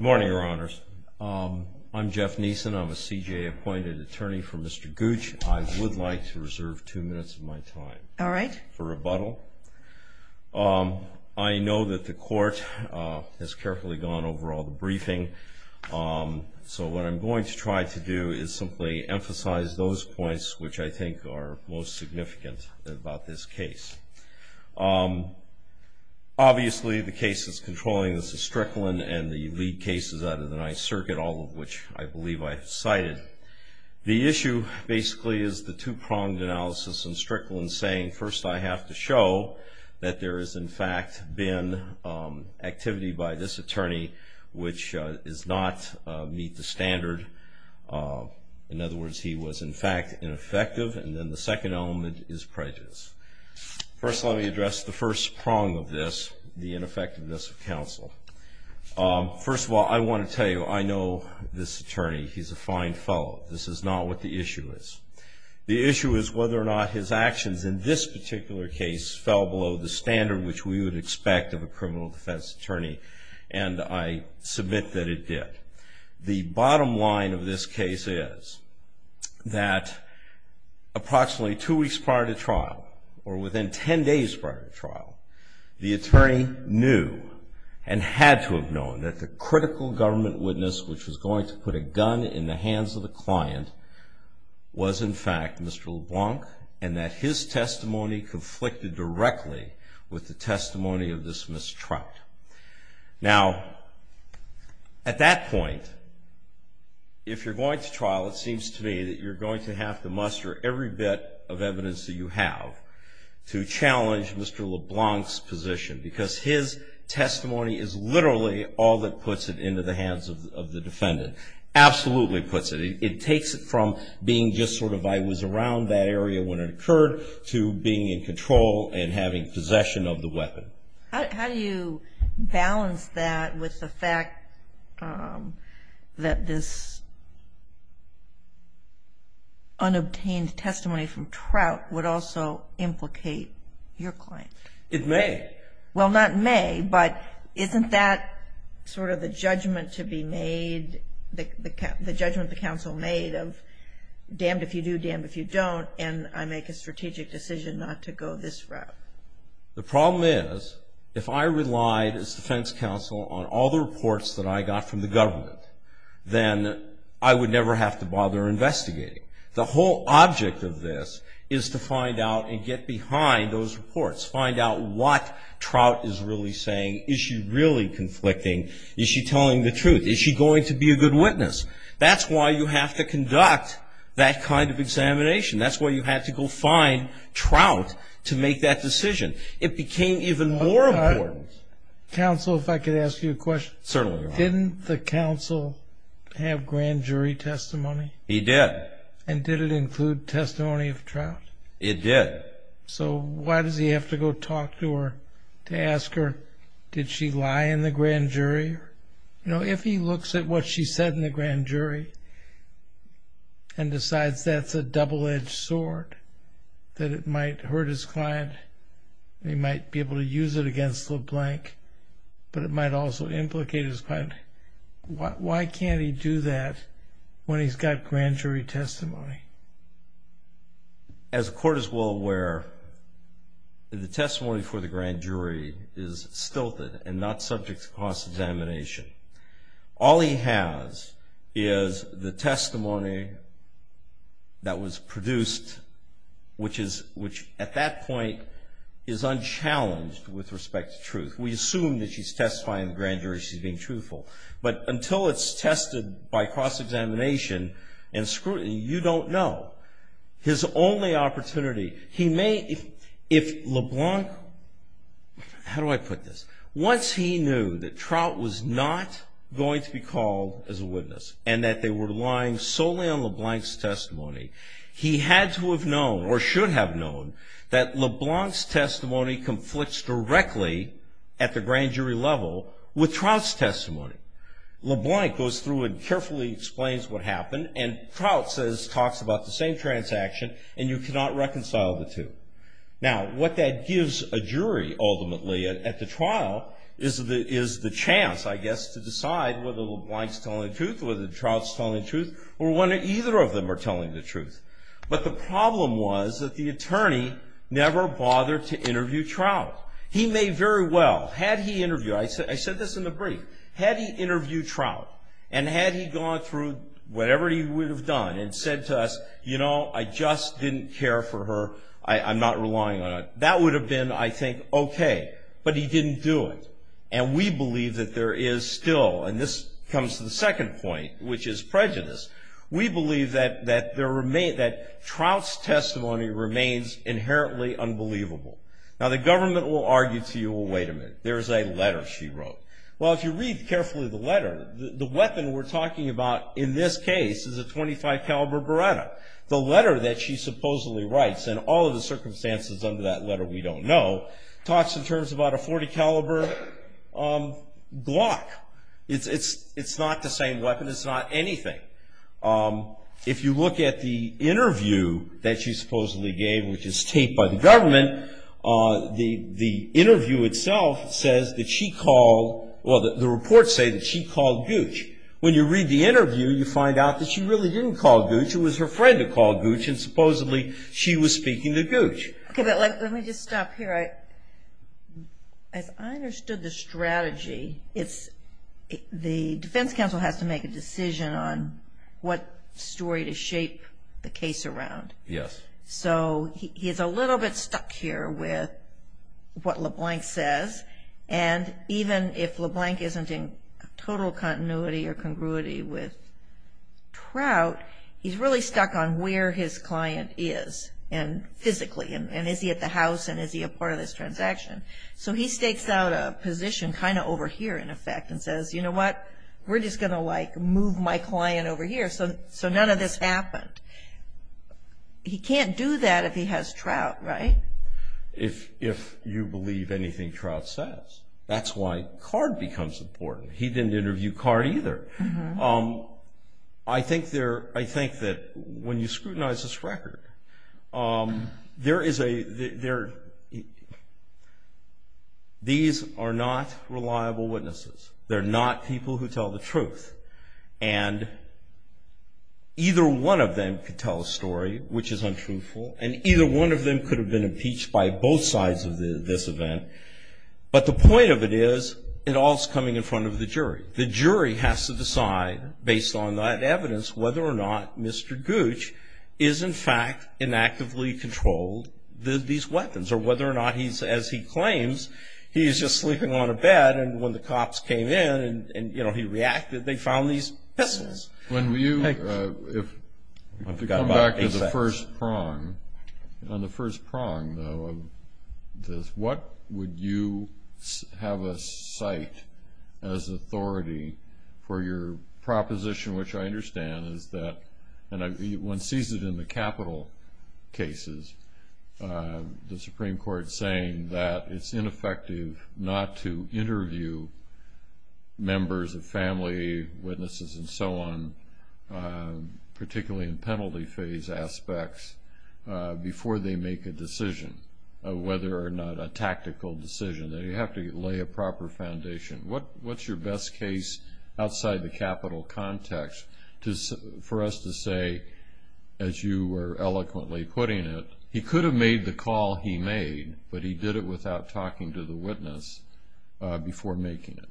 morning your honors I'm Jeff Neeson I'm a CJA appointed attorney for mr. Gooch I would like to reserve two minutes of my time all right for rebuttal I know that the court has carefully gone over all the briefing so what I'm going to try to do is simply emphasize those points which I think are most significant about this case obviously the case is controlling this is Strickland and the lead cases out of the ninth circuit all of which I believe I cited the issue basically is the two-pronged analysis and Strickland saying first I have to show that there is in fact been activity by this attorney which is not meet the standard in other words he was in fact ineffective and then the second element is prejudice first let me address the first prong of this the ineffectiveness of counsel first of all I want to tell you I know this attorney he's a fine fellow this is not what the issue is the issue is whether or not his actions in this particular case fell below the standard which we would expect of a criminal defense attorney and I submit that it did the bottom line of this case is that approximately two weeks prior to trial or within 10 days prior to trial the attorney knew and had to have known that the critical government witness which was going to put a gun in the hands of the client was in fact Mr. LeBlanc and that his testimony conflicted directly with the testimony of this mistruth now at that point if you're going to trial it seems to me that you're going to have to muster every bit of evidence that you have to challenge Mr. LeBlanc's position because his testimony is literally all that puts it into the hands of the defendant absolutely puts it it takes it from being just sort of I was around that area when it occurred to being in possession of the weapon how do you balance that with the fact that this unobtained testimony from trout would also implicate your client it may well not may but isn't that sort of the judgment to be made the judgment the council made of damned if you do damned if you don't and I make a strategic decision not to go this route the problem is if I relied as defense counsel on all the reports that I got from the government then I would never have to bother investigating the whole object of this is to find out and get behind those reports find out what trout is really saying is she really conflicting is she telling the truth is she going to be a good witness that's why you have to conduct that kind of examination that's why you have to go find trout to make that decision it became even more important counsel if I could ask you a question certainly didn't the council have grand jury testimony he did and did it include testimony of trout it did so why does he have to go talk to her to ask her did she lie in the grand jury you know if he looks at what she said in the grand jury and decides that's a double-edged sword that it might hurt his client they might be able to use it against the blank but it might also implicate his client what why can't he do that when he's got grand jury testimony as a court is well aware the testimony for the grand jury is stilted and not subject to cross-examination all he has is the which is which at that point is unchallenged with respect to truth we assume that she's testifying grand jury she's being truthful but until it's tested by cross-examination and scrutiny you don't know his only opportunity he may if LeBlanc how do I put this once he knew that trout was not going to be called as a witness and that they were lying solely on LeBlanc's testimony he had to have known or should have known that LeBlanc's testimony conflicts directly at the grand jury level with Trout's testimony LeBlanc goes through and carefully explains what happened and Trout says talks about the same transaction and you cannot reconcile the two now what that gives a jury ultimately at the trial is the is the chance I guess to decide whether LeBlanc's telling the truth or whether Trout's telling the truth or when either of them are but the problem was that the attorney never bothered to interview Trout he may very well had he interviewed I said I said this in the brief had he interviewed Trout and had he gone through whatever he would have done and said to us you know I just didn't care for her I I'm not relying on that would have been I think okay but he didn't do it and we believe that there is still and this comes to the second point which is prejudice we believe that that there may that Trout's testimony remains inherently unbelievable now the government will argue to you wait a minute there's a letter she wrote well if you read carefully the letter the weapon we're talking about in this case is a 25 caliber Beretta the letter that she supposedly writes and all of the circumstances under that letter we don't know talks in terms about a 40 caliber Glock it's it's it's not the same weapon it's not anything if you look at the interview that she supposedly gave which is taped by the government the the interview itself says that she called well the reports say that she called Gooch when you read the interview you find out that she really didn't call Gooch it was her friend who called Gooch and supposedly she was speaking to Gooch let me just stop here I as I understood the strategy it's the defense counsel has to make a decision on what story to shape the case around yes so he's a little bit stuck here with what LeBlanc says and even if LeBlanc isn't in total continuity or congruity with Trout he's really stuck on where his client is and physically and is he at the house and is he a part of this transaction so he stakes out a position kind of over here in effect and says you know what we're just gonna like move my client over here so so none of this happened he can't do that if he has Trout right if if you believe anything Trout says that's why card becomes important he didn't interview card either I think there I think that when you scrutinize this record there is a there these are not reliable witnesses they're not people who tell the truth and either one of them could tell a story which is untruthful and either one of them could have been impeached by both sides of the this event but the point of it is it all is coming in front of the jury the jury has to decide based on that evidence whether or not mr. Gooch is in fact in actively controlled the these weapons or whether or not he's as he claims he's just sleeping on a bed and when the cops came in and you know he reacted they found these pistols when you come back to the first prong on the first prong though of this what would you have a site as authority for your proposition which I understand is that and I one sees it in the capital cases the Supreme Court saying that it's ineffective not to interview members of family witnesses and so on particularly in penalty phase aspects before they make a decision whether or not a tactical decision that you have to lay a proper foundation what what's your best case outside the capital context just for us to say as you were eloquently putting it he could have made the call he made but he did it without talking to the witness before making it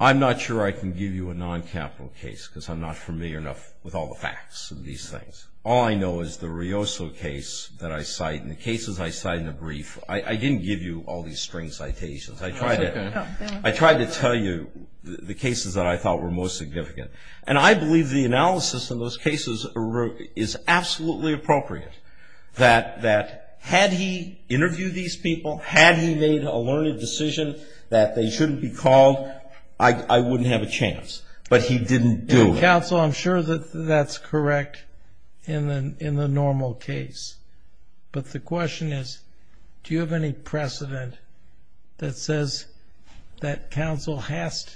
I'm not sure I can give you a non-capital case because I'm not familiar enough with all the facts of these things all I know is the Rios case that I cite in the cases I cite in the brief I didn't give you all these string citations I tried it I tried to tell you the cases that I thought were most significant and I believe the analysis in those cases is absolutely appropriate that that had he interviewed these people had he made a learned decision that they shouldn't be called I wouldn't have a chance but he didn't do I'm sure that that's correct in the in the normal case but the question is do you have any precedent that says that counsel has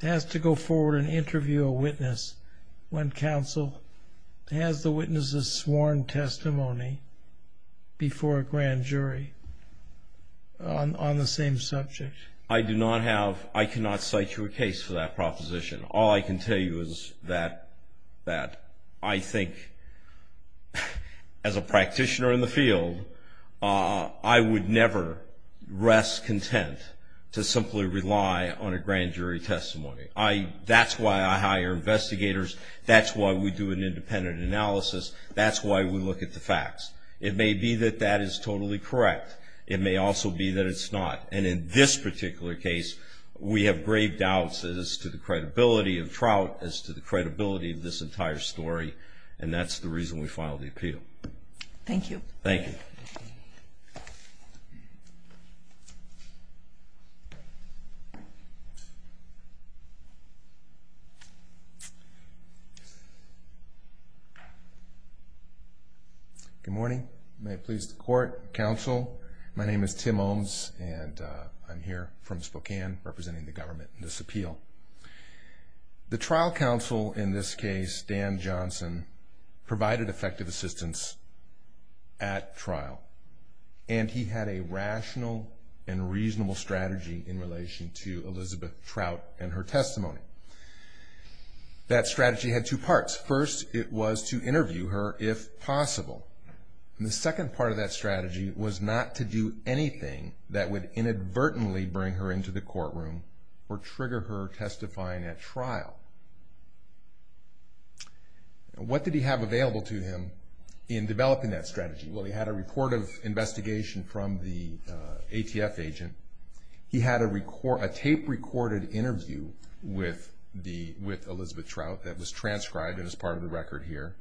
to go forward and interview a witness when counsel has the witnesses sworn testimony before a grand jury on the same subject I do not have I cannot cite your case for that proposition all I can tell you is that that I think as a practitioner in the field I would never rest content to simply rely on a grand jury testimony I that's why I hire investigators that's why we do an independent analysis that's why we look at the facts it may be that that is totally correct it may also be that it's not and in this particular case we have grave doubts as to the credibility of trout as to the credibility of this entire story and that's the reason we filed the appeal thank you thank you good morning may it please the court counsel my name is Tim owns and I'm here from Spokane representing the government in this appeal the trial counsel in this case Dan Johnson provided effective assistance at trial and he had a trout and her testimony that strategy had two parts first it was to interview her if possible the second part of that strategy was not to do anything that would inadvertently bring her into the courtroom or trigger her testifying at trial what did he have available to him in developing that strategy well he had a report of investigation from the ATF agent he had a record a tape recorded interview with the with Elizabeth trout that was transcribed as part of the record here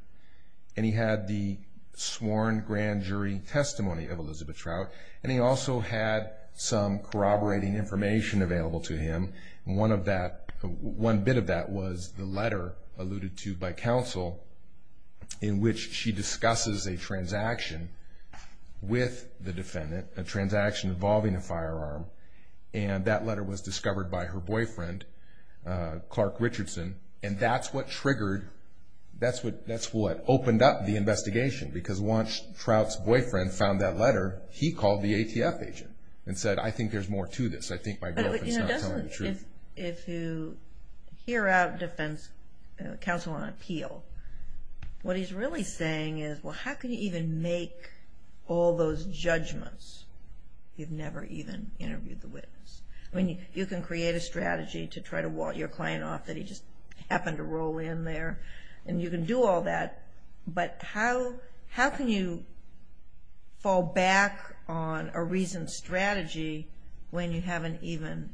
and he had the sworn grand jury testimony of Elizabeth trout and he also had some corroborating information available to him one of that one bit of that was the letter alluded to by counsel in which she discusses a transaction with the defendant a transaction involving a firearm and that letter was discovered by her boyfriend Clark Richardson and that's what triggered that's what that's what opened up the investigation because once trout's boyfriend found that letter he called the ATF agent and said I think there's more to this I think my girlfriend's not telling the truth if you hear out defense counsel on appeal what he's really saying is well how could you even make all those judgments you've never even interviewed the witness I mean you can create a strategy to try to walk your client off that he just happened to roll in there and you can do all that but how how can you fall back on a reason strategy when you haven't even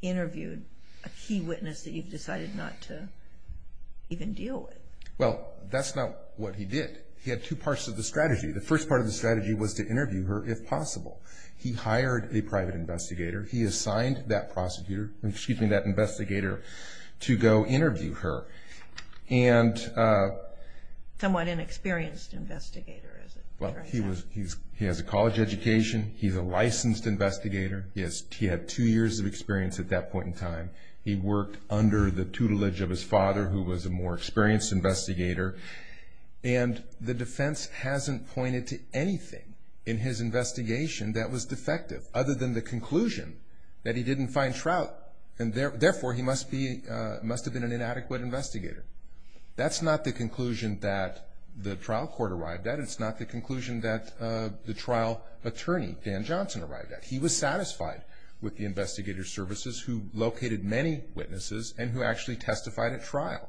interviewed a key witness that you've decided not to even deal with well that's not what he did he had two parts of the strategy the first part of the strategy was to interview her if possible he hired a private investigator he assigned that prosecutor and keeping that investigator to go interview her and somewhat inexperienced investigator well he was he has a college education he's a licensed investigator yes he had two years of experience at that point in time he worked under the tutelage of his father who was a more experienced investigator and the defense hasn't pointed to anything in his investigation that was defective other than the conclusion that he didn't find trout and therefore he must be must have been an inadequate investigator that's not the conclusion that the trial court arrived at it's not the conclusion that the trial attorney Dan Johnson arrived at he was satisfied with the investigator services who located many witnesses and who actually testified at trial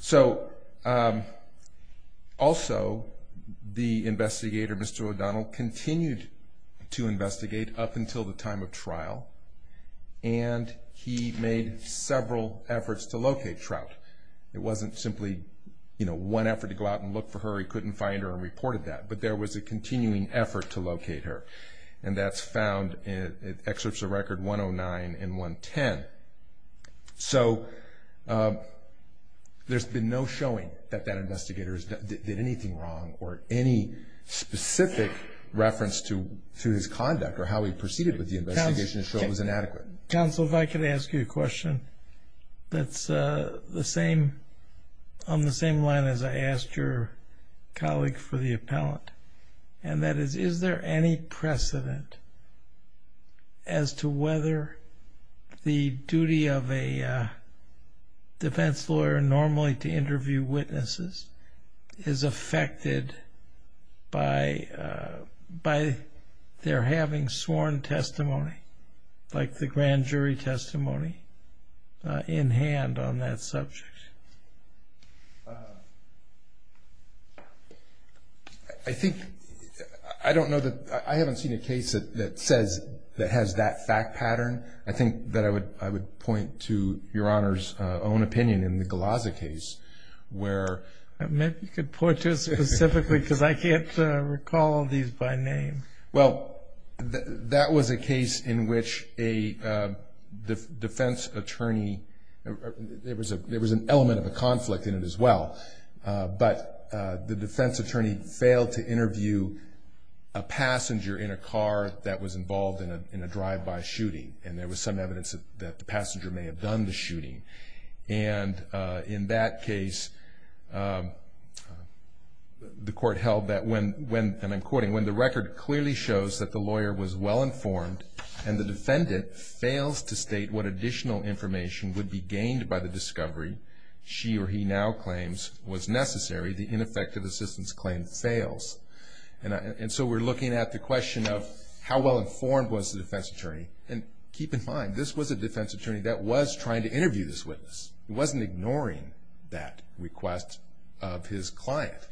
so also the investigator Mr. O'Donnell continued to investigate up until the time of trial and he made several efforts to locate trout it wasn't simply you know one effort to go out and look for her he couldn't find her and reported that but there was a it excerpts a record 109 and 110 so there's been no showing that that investigators did anything wrong or any specific reference to to his conduct or how he proceeded with the investigation shows inadequate counsel if I could ask you a question that's the same on the same line as I asked your colleague for the appellant and that is is there any precedent as to whether the duty of a defense lawyer normally to interview witnesses is affected by by their having sworn testimony like the grand jury testimony in hand on that subject I think I don't know that I haven't seen a case that says that has that fact pattern I think that I would I would point to your honors own opinion in the Glaser case where I meant to put this specifically because I can't recall these by name well that was a case in which a defense attorney there was a element of a conflict in it as well but the defense attorney failed to interview a passenger in a car that was involved in a drive-by shooting and there was some evidence that the passenger may have done the shooting and in that case the court held that when when I'm quoting when the record clearly shows that the lawyer was well-informed and the defendant fails to state what a discovery she or he now claims was necessary the ineffective assistance claim fails and so we're looking at the question of how well-informed was the defense attorney and keep in mind this was a defense attorney that was trying to interview this witness wasn't ignoring that request of his client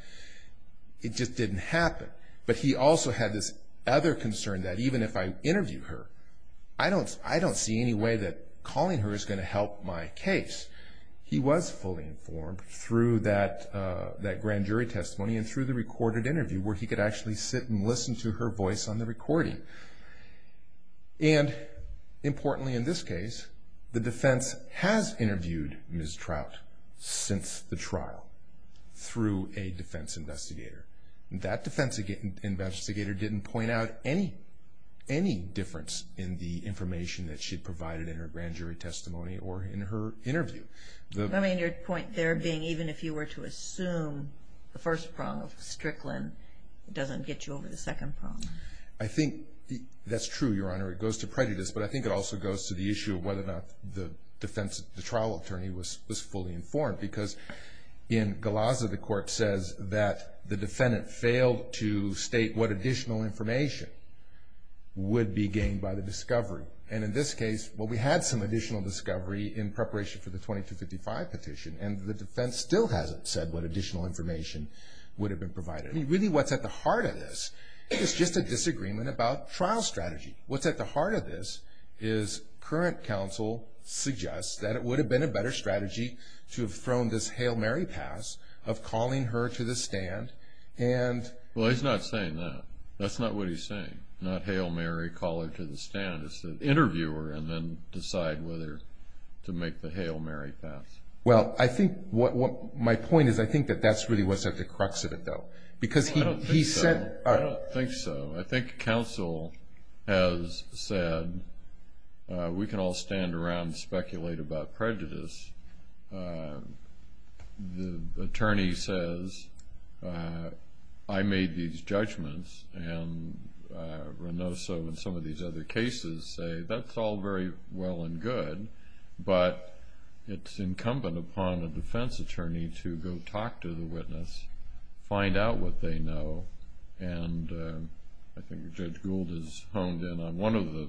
it just didn't happen but he also had this other concern that even if I interview her I don't I don't see any way that calling her is going to help my case he was fully informed through that that grand jury testimony and through the recorded interview where he could actually sit and listen to her voice on the recording and importantly in this case the defense has interviewed mistrout since the trial through a defense investigator that defense investigator didn't point out any any difference in the information that she provided in her grand jury testimony or in her interview the remainder point there being even if you were to assume the first prong of Strickland it doesn't get you over the second problem I think that's true your honor it goes to prejudice but I think it also goes to the issue of whether or not the defense the trial attorney was was fully informed because in Galazza the court says that the defendant failed to state what additional information would be gained by the discovery and in this case what we had some additional discovery in preparation for the 2255 petition and the defense still hasn't said what additional information would have been provided really what's at the heart of this is just a disagreement about trial strategy what's at the heart of this is current counsel suggests that it would have been a better strategy to have this Hail Mary pass of calling her to the stand and that's not what he's saying not Hail Mary call it to the stand interviewer and then decide whether to make the Hail Mary pass well I think what what my point is I think that that's really what's at the crux of it though because he said I don't think so I think counsel has said we can all stand around and speculate about prejudice the attorney says I made these judgments and Renoso and some of these other cases say that's all very well and good but it's incumbent upon a defense attorney to go talk to the witness find out what they know and I think Judge Gould is honed in on one of the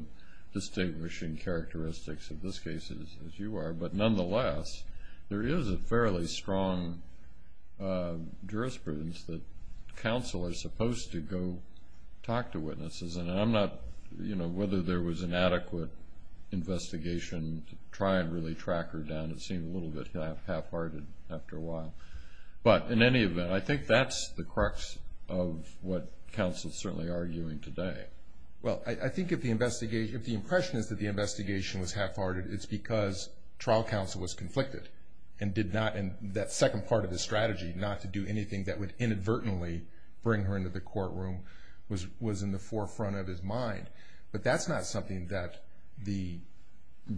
distinguishing characteristics of this case is as you are but nonetheless there is a fairly strong jurisprudence that counsel is supposed to go talk to witnesses and I'm not you know whether there was an adequate investigation to try and really track her down it seemed a little bit half-hearted after a while but in any event I think that's the crux of what counsel is certainly arguing today well I think if the investigation if the impression is that the investigation was half-hearted it's because trial counsel was conflicted and did not in that second part of the strategy not to do anything that would inadvertently bring her into the courtroom was was in the forefront of his mind but that's not something that the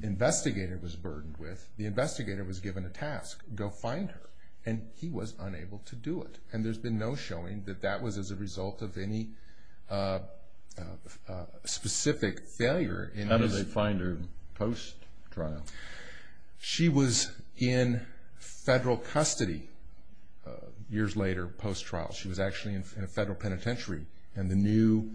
investigator was burdened with the investigator was given a task go find her and he was unable to do it and there's been no showing that that was as a result of any specific failure in how do they find her post trial she was in federal custody years later post trial she was actually in federal penitentiary and the new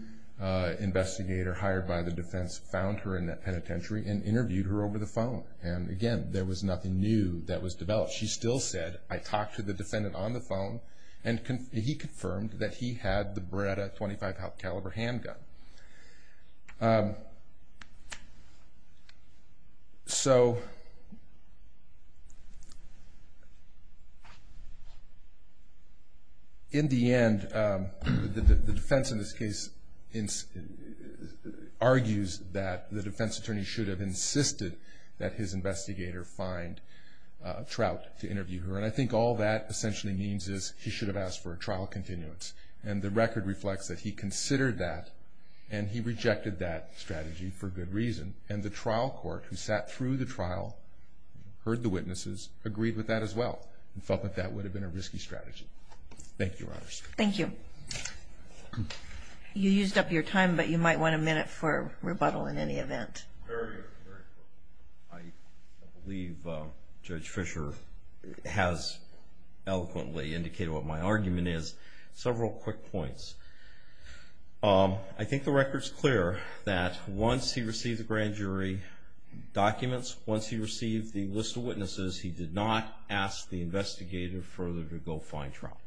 investigator hired by the defense found her in the penitentiary and interviewed her over the phone and again there was nothing new that was developed she still said I talked to the defendant on the phone and he confirmed that he had the Beretta .25 caliber handgun so in the end the defense in this case argues that the defense attorney should have insisted that his investigator find Trout to interview her and I think all that essentially means is he should have asked for a trial continuance and the record reflects that he considered that and he rejected that strategy for good reason and the trial court who sat through the trial heard the witnesses agreed with that as well but that would have been a risky strategy thank you thank you you used up your time but you might want a minute for rebuttal in any I believe Judge Fischer has eloquently indicated what my argument is several quick points I think the record's clear that once he received the grand jury documents once he received the list of witnesses he did not ask the investigator further to go find Trout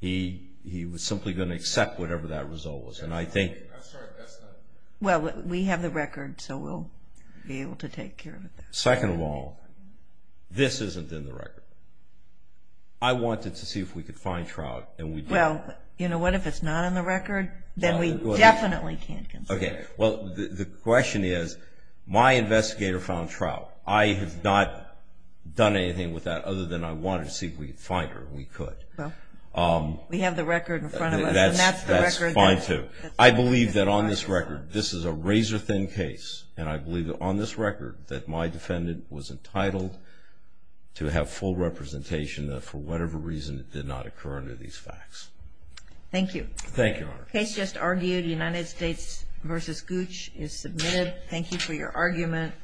he he was simply going to accept whatever that result was and I think well we have the record so we'll be able to take care of it second of all this isn't in the record I wanted to see if we could find Trout and we'd well you know what if it's not in the record then we definitely can't okay well the question is my investigator found Trout I have not done anything with that other than I wanted to see if we could find her we could I believe that on this record this is a razor-thin case and I believe that on this record that my defendant was entitled to have full representation for whatever reason it did not occur under these facts thank you thank you case just argued United States versus Gooch is submitted thank you for your argument